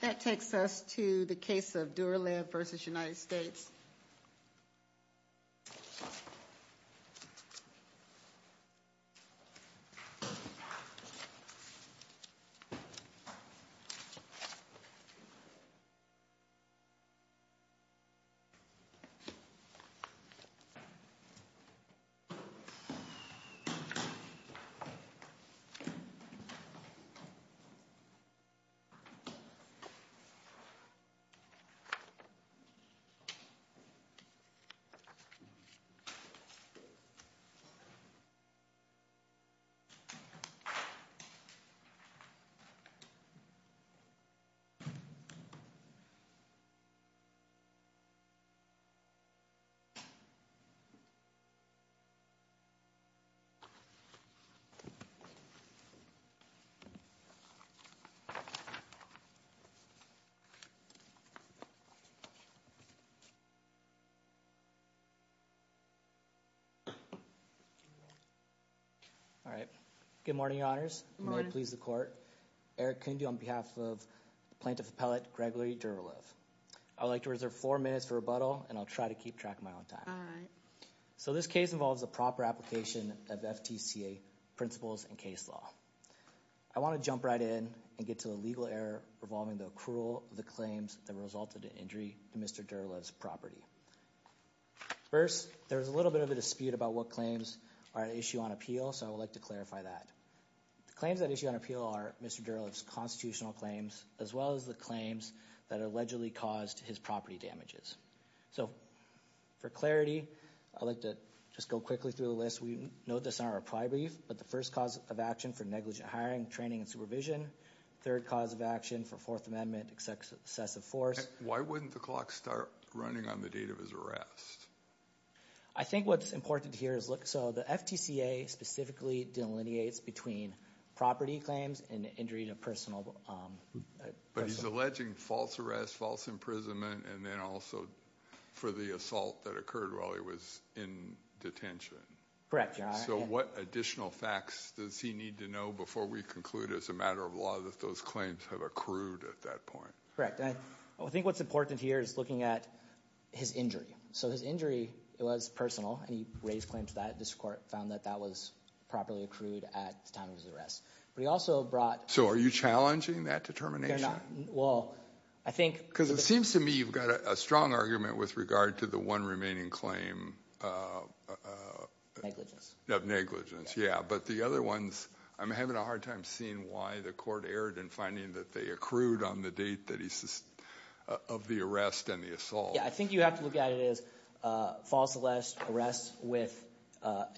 That takes us to the case of Duralev v. United States. Duralev v. United States Good morning, your honors. May it please the court. Eric Kundu on behalf of Plaintiff Appellate Gregory Duralev. I would like to reserve four minutes for rebuttal and I'll try to keep track of my own time. So this case involves a proper application of FTCA principles and case law. I want to jump right in and get to the legal error involving the accrual of the claims that resulted in injury to Mr. Duralev's property. First, there was a little bit of a dispute about what claims are at issue on appeal, so I would like to clarify that. The claims at issue on appeal are Mr. Duralev's constitutional claims as well as the claims that allegedly caused his property damages. So for clarity, I'd like to just go quickly through the list. We note this in our prior brief, but the first cause of action for negligent hiring, training, and supervision. Third cause of action for Fourth Amendment excessive force. Why wouldn't the clock start running on the date of his arrest? I think what's important here is, look, so the FTCA specifically delineates between property claims and injury to personal... But he's alleging false arrest, false imprisonment, and then also for the assault that occurred while he was in detention. Correct, Your Honor. So what additional facts does he need to know before we conclude as a matter of law that those claims have accrued at that point? Correct. I think what's important here is looking at his injury. So his injury, it was personal, and he raised claims to that. The district court found that that was properly accrued at the time of his arrest. But he also brought... So are you challenging that determination? No, I'm not. Well, I think... Because it seems to me you've got a strong argument with regard to the one remaining claim. Negligence. Of negligence, yeah. But the other ones, I'm having a hard time seeing why the court erred in finding that they accrued on the date of the arrest and the assault. Yeah, I think you have to look at it as false arrest with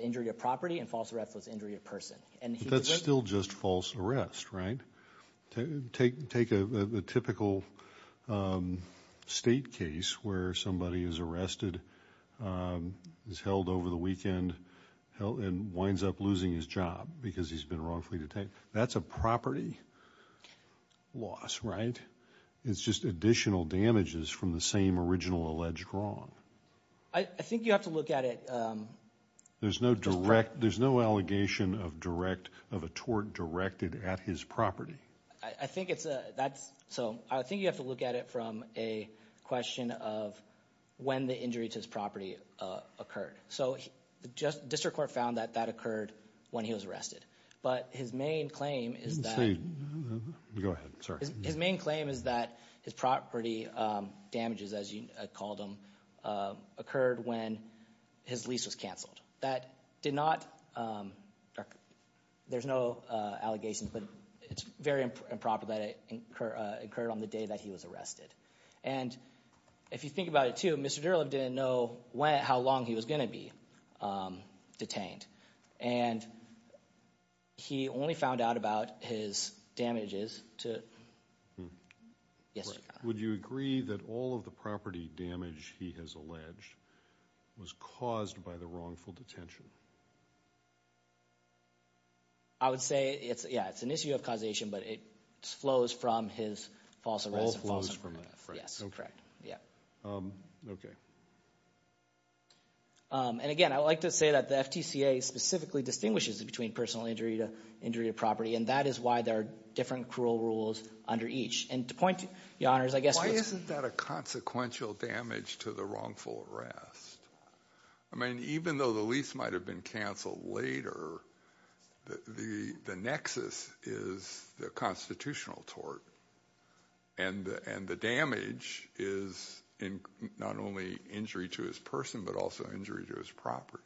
injury of property and false arrest with injury of person. But that's still just false arrest, right? Take a typical state case where somebody is arrested, is held over the weekend, and winds up losing his job because he's been wrongfully detained. That's a property loss, right? It's just additional damages from the same original alleged wrong. I think you have to look at it... There's no direct... There's no allegation of a tort directed at his property. I think it's a... So I think you have to look at it from a question of when the injury to his property occurred. So the district court found that that occurred when he was arrested. But his main claim is that... Go ahead. Sorry. That did not... There's no allegations, but it's very improper that it occurred on the day that he was arrested. And if you think about it too, Mr. Derulov didn't know how long he was going to be detained. And he only found out about his damages to… Would you agree that all of the property damage he has alleged was caused by the wrongful detention? I would say, yeah, it's an issue of causation, but it flows from his false arrest. All flows from that. Yes, correct. And again, I would like to say that the FTCA specifically distinguishes between personal injury to injury to property. And that is why there are different cruel rules under each. And to point you, Your Honors, I guess what's… Why isn't that a consequential damage to the wrongful arrest? I mean even though the lease might have been canceled later, the nexus is the constitutional tort. And the damage is not only injury to his person but also injury to his property.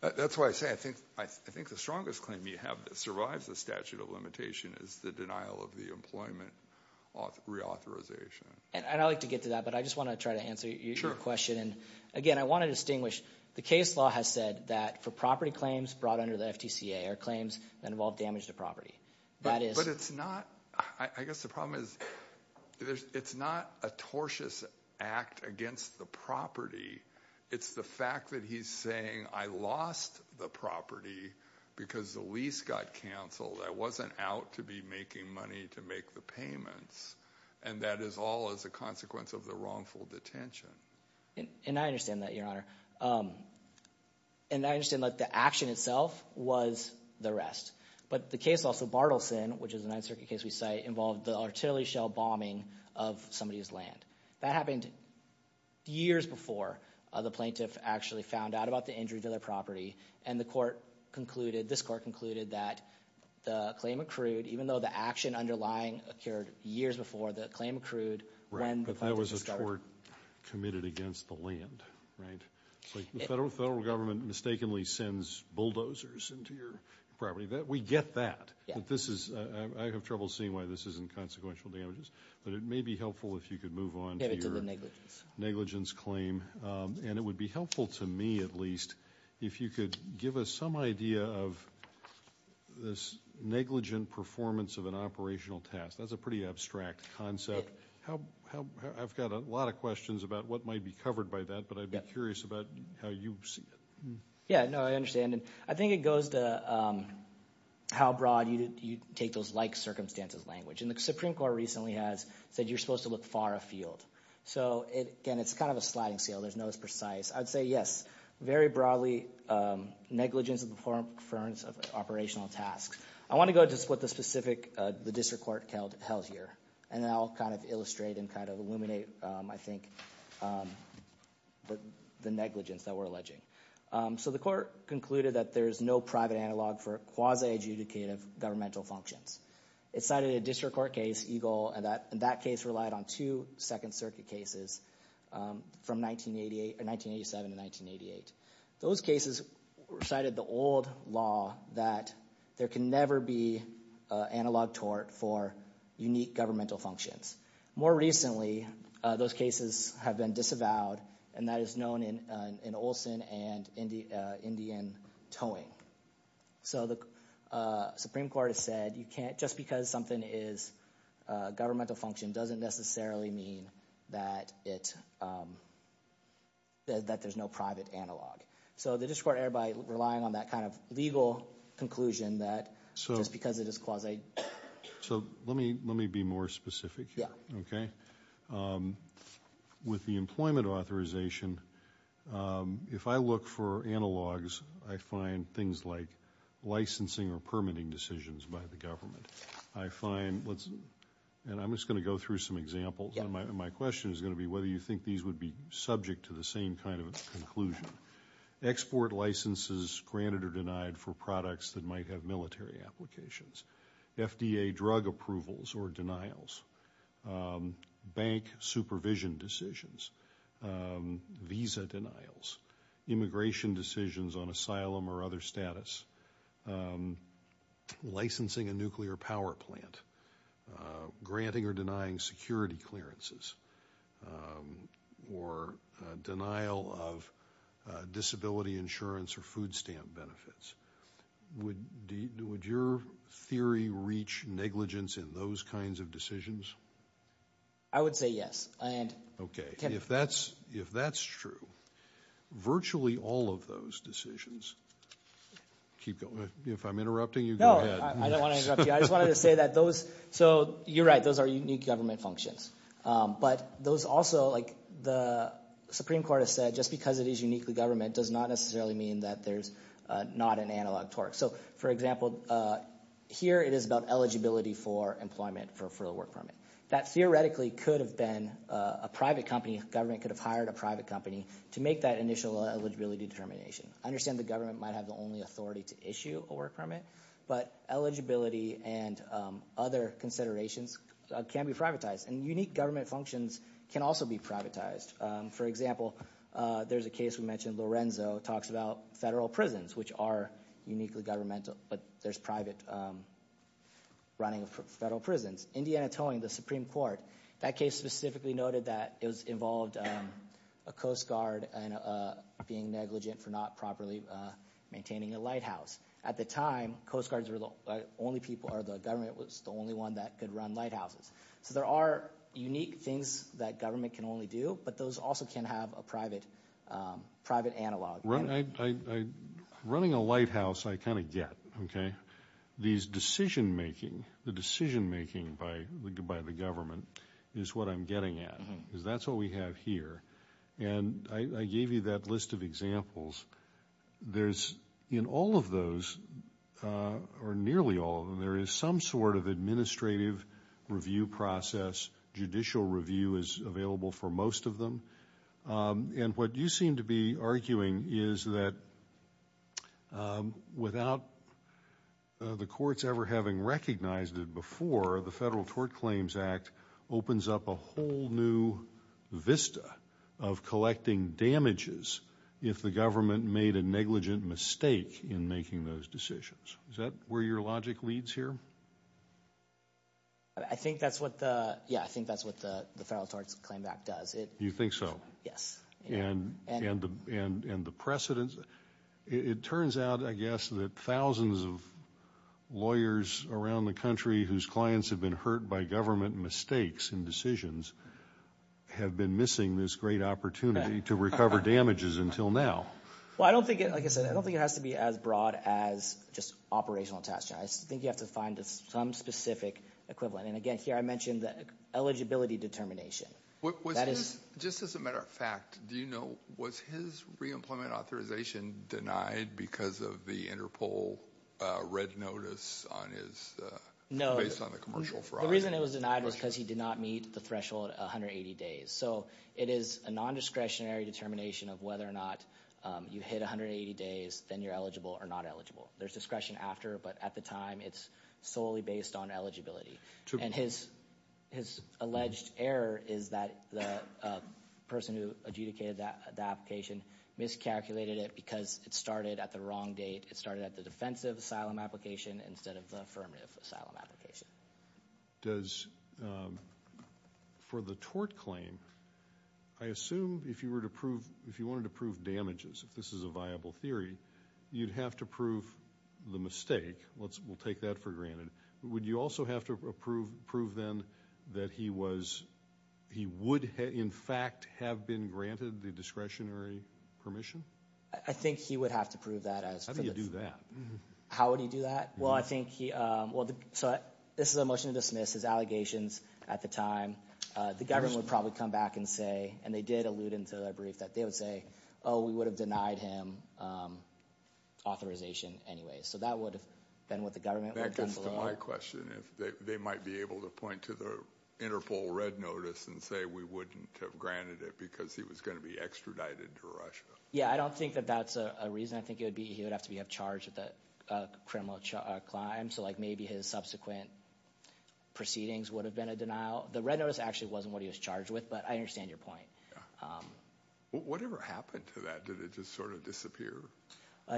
That's why I say I think the strongest claim you have that survives the statute of limitation is the denial of the employment reauthorization. And I'd like to get to that, but I just want to try to answer your question. And again, I want to distinguish. The case law has said that for property claims brought under the FTCA are claims that involve damage to property. But it's not – I guess the problem is it's not a tortious act against the property. It's the fact that he's saying I lost the property because the lease got canceled. I wasn't out to be making money to make the payments, and that is all as a consequence of the wrongful detention. And I understand that, Your Honor. And I understand that the action itself was the arrest. But the case law, so Bartleson, which is a Ninth Circuit case we cite, involved the artillery shell bombing of somebody's land. That happened years before the plaintiff actually found out about the injury to their property. And the court concluded – this court concluded that the claim accrued, even though the action underlying occurred years before, the claim accrued when the plaintiff discovered it. But that was a tort committed against the land, right? It's like the federal government mistakenly sends bulldozers into your property. We get that. But this is – I have trouble seeing why this isn't consequential damages, but it may be helpful if you could move on to your negligence claim. And it would be helpful to me at least if you could give us some idea of this negligent performance of an operational task. That's a pretty abstract concept. I've got a lot of questions about what might be covered by that, but I'd be curious about how you see it. Yeah, no, I understand. And I think it goes to how broad you take those like-circumstances language. And the Supreme Court recently has – said you're supposed to look far afield. So again, it's kind of a sliding scale. There's no precise – I'd say yes, very broadly negligence of performance of operational tasks. I want to go to what the specific – the district court held here, and then I'll kind of illustrate and kind of illuminate, I think, the negligence that we're alleging. So the court concluded that there is no private analog for quasi-adjudicative governmental functions. It cited a district court case, EGLE, and that case relied on two Second Circuit cases from 1987 to 1988. Those cases cited the old law that there can never be analog tort for unique governmental functions. More recently, those cases have been disavowed, and that is known in Olson and Indian towing. So the Supreme Court has said you can't – just because something is governmental function doesn't necessarily mean that it – that there's no private analog. So the district court erred by relying on that kind of legal conclusion that just because it is quasi – So let me be more specific here, okay? With the employment authorization, if I look for analogs, I find things like licensing or permitting decisions by the government. I find – and I'm just going to go through some examples, and my question is going to be whether you think these would be subject to the same kind of conclusion. Export licenses granted or denied for products that might have military applications. FDA drug approvals or denials. Bank supervision decisions. Visa denials. Immigration decisions on asylum or other status. Licensing a nuclear power plant. Granting or denying security clearances. Or denial of disability insurance or food stamp benefits. Would your theory reach negligence in those kinds of decisions? I would say yes. Okay. If that's true, virtually all of those decisions – keep going. If I'm interrupting you, go ahead. No, I don't want to interrupt you. I just wanted to say that those – so you're right. Those are unique government functions. But those also, like the Supreme Court has said, just because it is uniquely government does not necessarily mean that there's not an analog torque. So, for example, here it is about eligibility for employment for a work permit. That theoretically could have been a private company. A government could have hired a private company to make that initial eligibility determination. I understand the government might have the only authority to issue a work permit, but eligibility and other considerations can be privatized. And unique government functions can also be privatized. For example, there's a case we mentioned. Lorenzo talks about federal prisons, which are uniquely governmental, but there's private running of federal prisons. Indiana Towing, the Supreme Court, that case specifically noted that it involved a Coast Guard being negligent for not properly maintaining a lighthouse. At the time, Coast Guards were the only people – or the government was the only one that could run lighthouses. So there are unique things that government can only do, but those also can have a private analog. Running a lighthouse I kind of get. These decision-making, the decision-making by the government is what I'm getting at because that's what we have here. And I gave you that list of examples. There's – in all of those, or nearly all of them, there is some sort of administrative review process. Judicial review is available for most of them. And what you seem to be arguing is that without the courts ever having recognized it before, the Federal Tort Claims Act opens up a whole new vista of collecting damages if the government made a negligent mistake in making those decisions. Is that where your logic leads here? I think that's what the – yeah, I think that's what the Federal Tort Claims Act does. You think so? Yes. And the precedence – it turns out, I guess, that thousands of lawyers around the country whose clients have been hurt by government mistakes and decisions have been missing this great opportunity to recover damages until now. Well, I don't think it – like I said, I don't think it has to be as broad as just operational attachment. I think you have to find some specific equivalent. And again, here I mentioned the eligibility determination. Just as a matter of fact, do you know, was his re-employment authorization denied because of the Interpol red notice on his – based on the commercial fraud? The reason it was denied was because he did not meet the threshold 180 days. So it is a nondiscretionary determination of whether or not you hit 180 days, then you're eligible or not eligible. There's discretion after, but at the time it's solely based on eligibility. And his alleged error is that the person who adjudicated that application miscalculated it because it started at the wrong date. It started at the defensive asylum application instead of the affirmative asylum application. Does – for the tort claim, I assume if you were to prove – if you wanted to prove damages, if this is a viable theory, you'd have to prove the mistake. We'll take that for granted. Would you also have to prove then that he was – he would in fact have been granted the discretionary permission? I think he would have to prove that as – How do you do that? How would he do that? Well, I think he – so this is a motion to dismiss his allegations at the time. The government would probably come back and say – and they did allude into a brief that they would say, oh, we would have denied him authorization anyway. So that would have been what the government would have done below. That gets to my question. They might be able to point to the Interpol red notice and say we wouldn't have granted it because he was going to be extradited to Russia. Yeah, I don't think that that's a reason. I think it would be he would have to be charged with a criminal crime, so maybe his subsequent proceedings would have been a denial. The red notice actually wasn't what he was charged with, but I understand your point. Whatever happened to that? Did it just sort of disappear?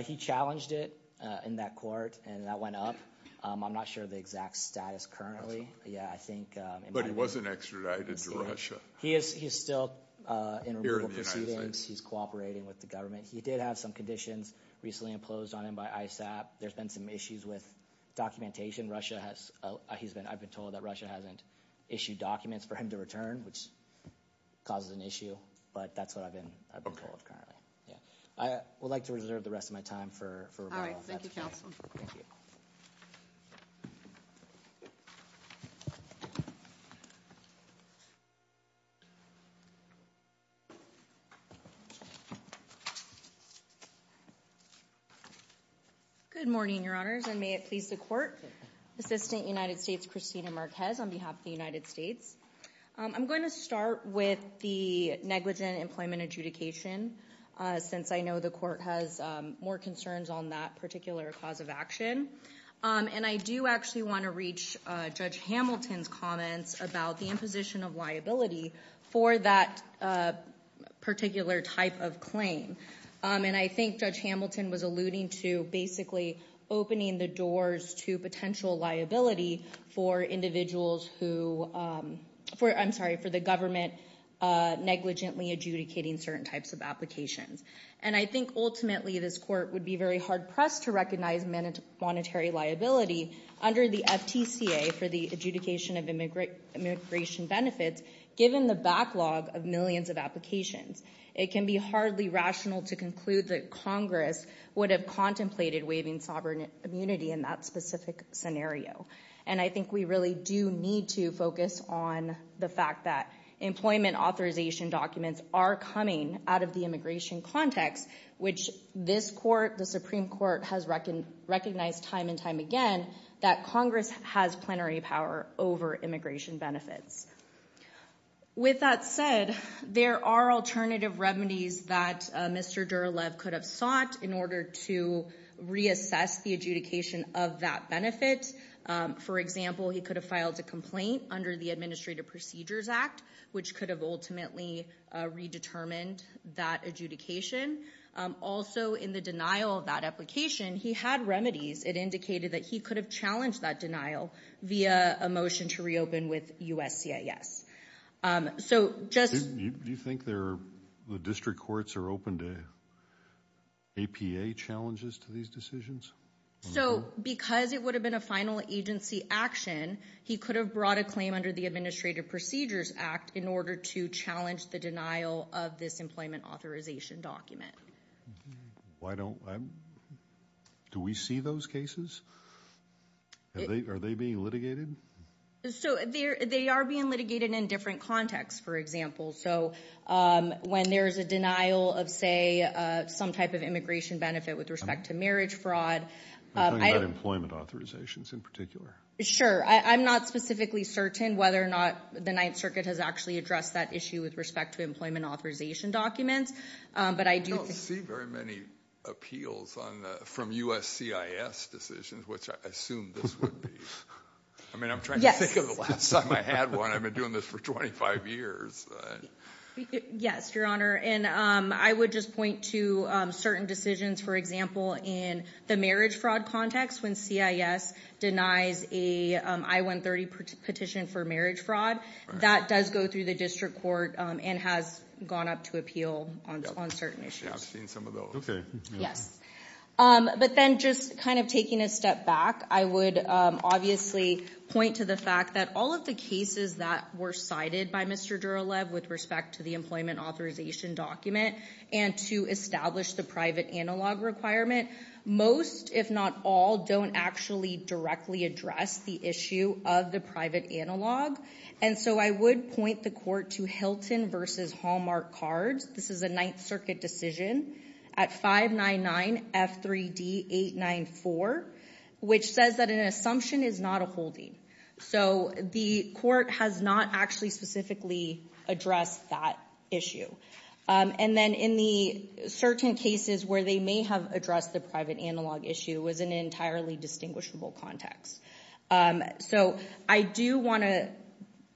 He challenged it in that court, and that went up. I'm not sure of the exact status currently. Yeah, I think – But he wasn't extradited to Russia. He is still in removal proceedings. He's cooperating with the government. He did have some conditions recently imposed on him by ISAP. There's been some issues with documentation. Russia has – he's been – I've been told that Russia hasn't issued documents for him to return, which causes an issue. But that's what I've been told currently. I would like to reserve the rest of my time for rebuttal. All right. Thank you, counsel. Good morning, Your Honors, and may it please the court. Assistant United States Christina Marquez on behalf of the United States. I'm going to start with the negligent employment adjudication since I know the court has more concerns on that particular cause of action. And I do actually want to reach Judge Hamilton's comments about the imposition of liability for that particular type of claim. And I think Judge Hamilton was alluding to basically opening the doors to potential liability for individuals who – I'm sorry, for the government negligently adjudicating certain types of applications. And I think ultimately this court would be very hard-pressed to recognize monetary liability under the FTCA for the adjudication of immigration benefits, given the backlog of millions of applications. It can be hardly rational to conclude that Congress would have contemplated waiving sovereign immunity in that specific scenario. And I think we really do need to focus on the fact that employment authorization documents are coming out of the immigration context, which this court, the Supreme Court, has recognized time and time again that Congress has plenary power over immigration benefits. With that said, there are alternative remedies that Mr. Derulov could have sought in order to reassess the adjudication of that benefit. For example, he could have filed a complaint under the Administrative Procedures Act, which could have ultimately redetermined that adjudication. Also, in the denial of that application, he had remedies. It indicated that he could have challenged that denial via a motion to reopen with USCIS. Do you think the district courts are open to APA challenges to these decisions? Because it would have been a final agency action, he could have brought a claim under the Administrative Procedures Act in order to challenge the denial of this employment authorization document. Do we see those cases? Are they being litigated? They are being litigated in different contexts, for example. When there is a denial of, say, some type of immigration benefit with respect to marriage fraud. Are you talking about employment authorizations in particular? Sure. I'm not specifically certain whether or not the Ninth Circuit has actually addressed that issue with respect to employment authorization documents. I don't see very many appeals from USCIS decisions, which I assume this would be. I'm trying to think of the last time I had one. I've been doing this for 25 years. Yes, Your Honor. I would just point to certain decisions, for example, in the marriage fraud context, when CIS denies a I-130 petition for marriage fraud. That does go through the district court and has gone up to appeal on certain issues. I've seen some of those. But then just kind of taking a step back, I would obviously point to the fact that all of the cases that were cited by Mr. Duralev with respect to the employment authorization document and to establish the private analog requirement, most, if not all, don't actually directly address the issue of the private analog. And so I would point the court to Hilton v. Hallmark Cards. This is a Ninth Circuit decision at 599 F3D894, which says that an assumption is not a holding. So the court has not actually specifically addressed that issue. And then in the certain cases where they may have addressed the private analog issue, it was an entirely distinguishable context. So I do want to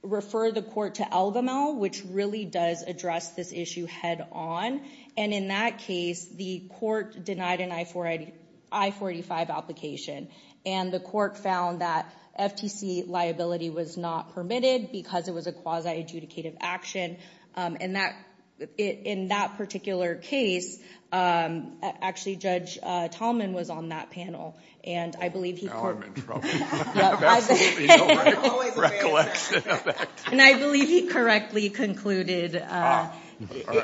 refer the court to Algamal, which really does address this issue head on. And in that case, the court denied an I-485 application. And the court found that FTC liability was not permitted because it was a quasi-adjudicative action. And in that particular case, actually, Judge Tallman was on that panel. And I believe he correctly concluded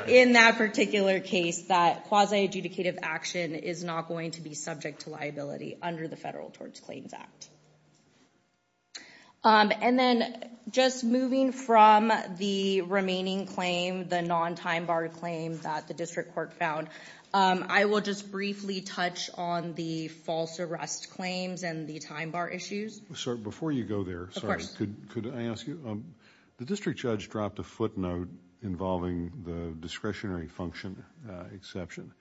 in that particular case that quasi-adjudicative action is not going to be subject to liability under the Federal Towards Claims Act. And then just moving from the remaining claim, the non-time-barred claim that the district court found, I will just briefly touch on the false arrest claims and the time-bar issues. Before you go there, could I ask you, the district judge dropped a footnote involving the discretionary function exception.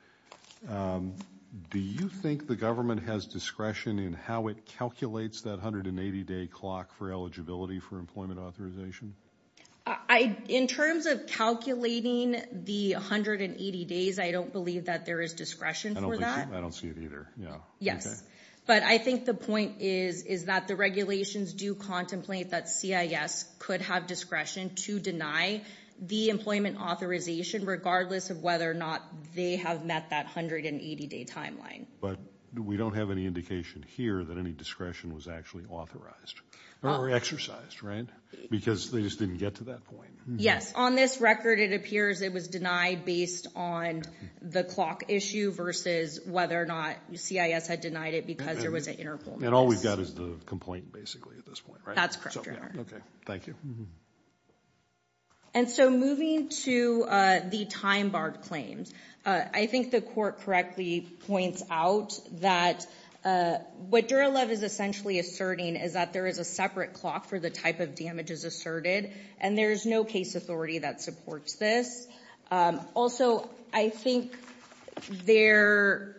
Do you think the government has discretion in how it calculates that 180-day clock for eligibility for employment authorization? In terms of calculating the 180 days, I don't believe that there is discretion for that. I don't see it either. Yes. But I think the point is that the regulations do contemplate that CIS could have discretion to deny the employment authorization, regardless of whether or not they have met that 180-day timeline. But we don't have any indication here that any discretion was actually authorized or exercised, right? Because they just didn't get to that point? On this record, it appears it was denied based on the clock issue versus whether or not CIS had denied it because there was an interval. And all we've got is the complaint, basically, at this point, right? That's correct, Your Honor. Okay. Thank you. And so moving to the time-barred claims, I think the court correctly points out that what Duralev is essentially asserting is that there is a separate clock for the type of damages asserted, and there is no case authority that supports this. Also, I think there,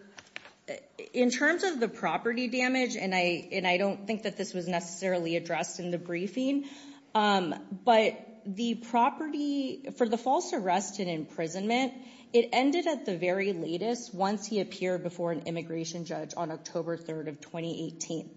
in terms of the property damage, and I don't think that this was necessarily addressed in the briefing, but the property, for the false arrest and imprisonment, it ended at the very latest once he appeared before an immigration judge on October 3rd of 2018.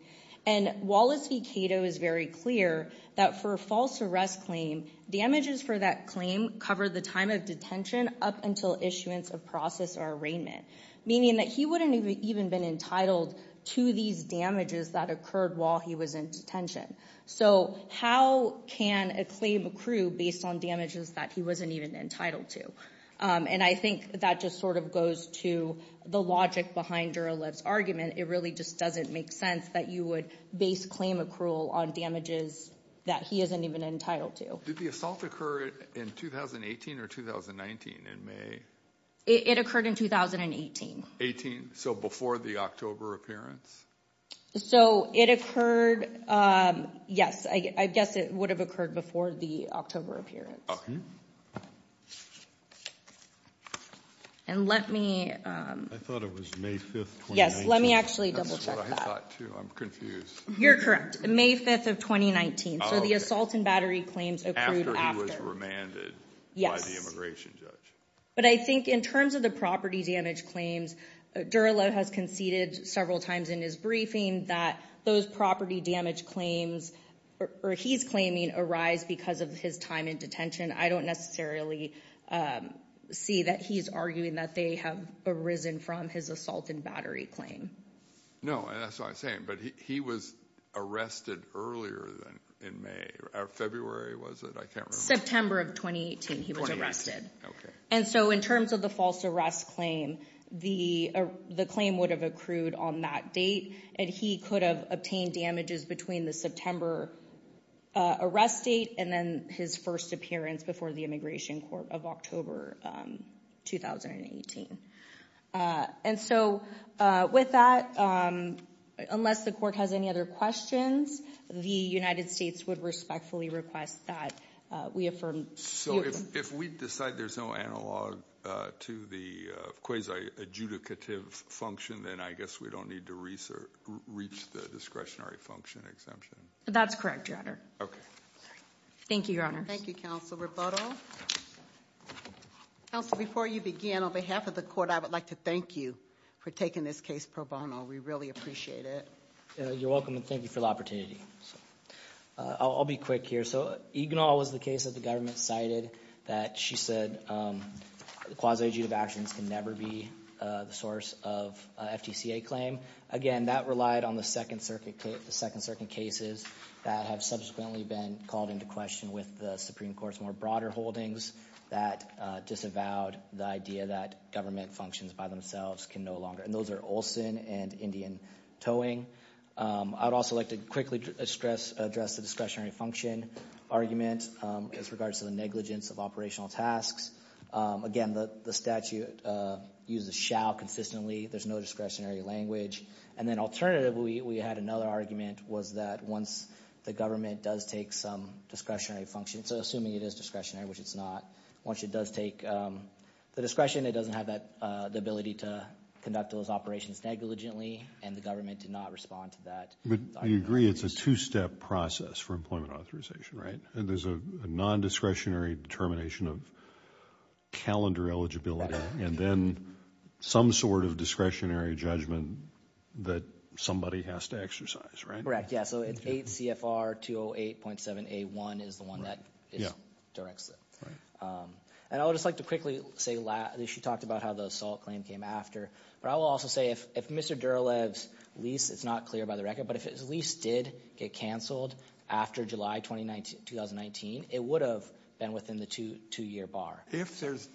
And Wallace v. Cato is very clear that for a false arrest claim, damages for that claim cover the time of detention up until issuance of process or arraignment, meaning that he wouldn't have even been entitled to these damages that occurred while he was in detention. So how can a claim accrue based on damages that he wasn't even entitled to? And I think that just sort of goes to the logic behind Duralev's argument. It really just doesn't make sense that you would base claim accrual on damages that he isn't even entitled to. Did the assault occur in 2018 or 2019 in May? It occurred in 2018. 18, so before the October appearance? So it occurred, yes, I guess it would have occurred before the October appearance. Okay. And let me… I thought it was May 5th, 2019. Yes, let me actually double check that. That's what I thought too, I'm confused. You're correct, May 5th of 2019. So the assault and battery claims occurred after. After he was remanded by the immigration judge. But I think in terms of the property damage claims, Duralev has conceded several times in his briefing that those property damage claims, or he's claiming, arise because of his time in detention. I don't necessarily see that he's arguing that they have arisen from his assault and battery claim. No, and that's what I'm saying. But he was arrested earlier in May, February was it? September of 2018 he was arrested. And so in terms of the false arrest claim, the claim would have accrued on that date. And he could have obtained damages between the September arrest date and then his first appearance before the immigration court of October 2018. And so with that, unless the court has any other questions, the United States would respectfully request that we affirm… So if we decide there's no analog to the quasi-adjudicative function, then I guess we don't need to reach the discretionary function exemption? That's correct, Your Honor. Okay. Thank you, Your Honor. Thank you, Counsel Raputo. Counsel, before you begin, on behalf of the court, I would like to thank you for taking this case pro bono. We really appreciate it. You're welcome and thank you for the opportunity. I'll be quick here. So Egnall was the case that the government cited that she said quasi-adjudicative actions can never be the source of an FTCA claim. Again, that relied on the Second Circuit cases that have subsequently been called into question with the Supreme Court's more broader holdings that disavowed the idea that government functions by themselves can no longer. And those are Olson and Indian Towing. I would also like to quickly address the discretionary function argument as regards to the negligence of operational tasks. Again, the statute uses shall consistently. There's no discretionary language. And then alternatively, we had another argument was that once the government does take some discretionary function – so assuming it is discretionary, which it's not – once it does take the discretion, it doesn't have the ability to conduct those operations negligently. And the government did not respond to that. But you agree it's a two-step process for employment authorization, right? There's a non-discretionary determination of calendar eligibility and then some sort of discretionary judgment that somebody has to exercise, right? Correct, yeah. So it's 8 CFR 208.7A1 is the one that directs it. And I would just like to quickly say – she talked about how the assault claim came after. But I will also say if Mr. Durolev's lease – it's not clear by the record – but if his lease did get canceled after July 2019, it would have been within the two-year bar. If there's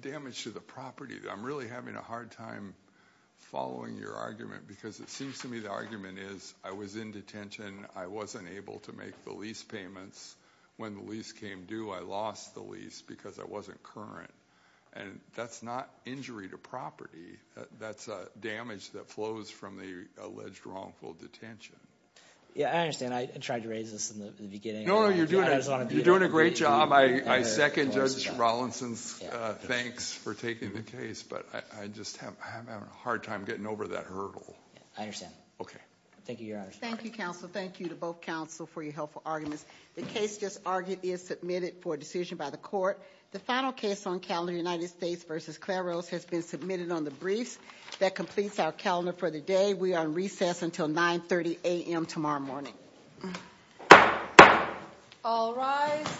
damage to the property, I'm really having a hard time following your argument because it seems to me the argument is I was in detention. I wasn't able to make the lease payments. When the lease came due, I lost the lease because I wasn't current. And that's not injury to property. That's damage that flows from the alleged wrongful detention. Yeah, I understand. I tried to raise this in the beginning. No, no, you're doing a great job. I second Judge Rollinson's thanks for taking the case. But I just am having a hard time getting over that hurdle. I understand. Okay. Thank you, Your Honor. Thank you, counsel. Thank you to both counsel for your helpful arguments. The case just argued is submitted for decision by the court. The final case on calendar United States v. Claros has been submitted on the briefs. That completes our calendar for the day. We are on recess until 9.30 a.m. tomorrow morning. All rise.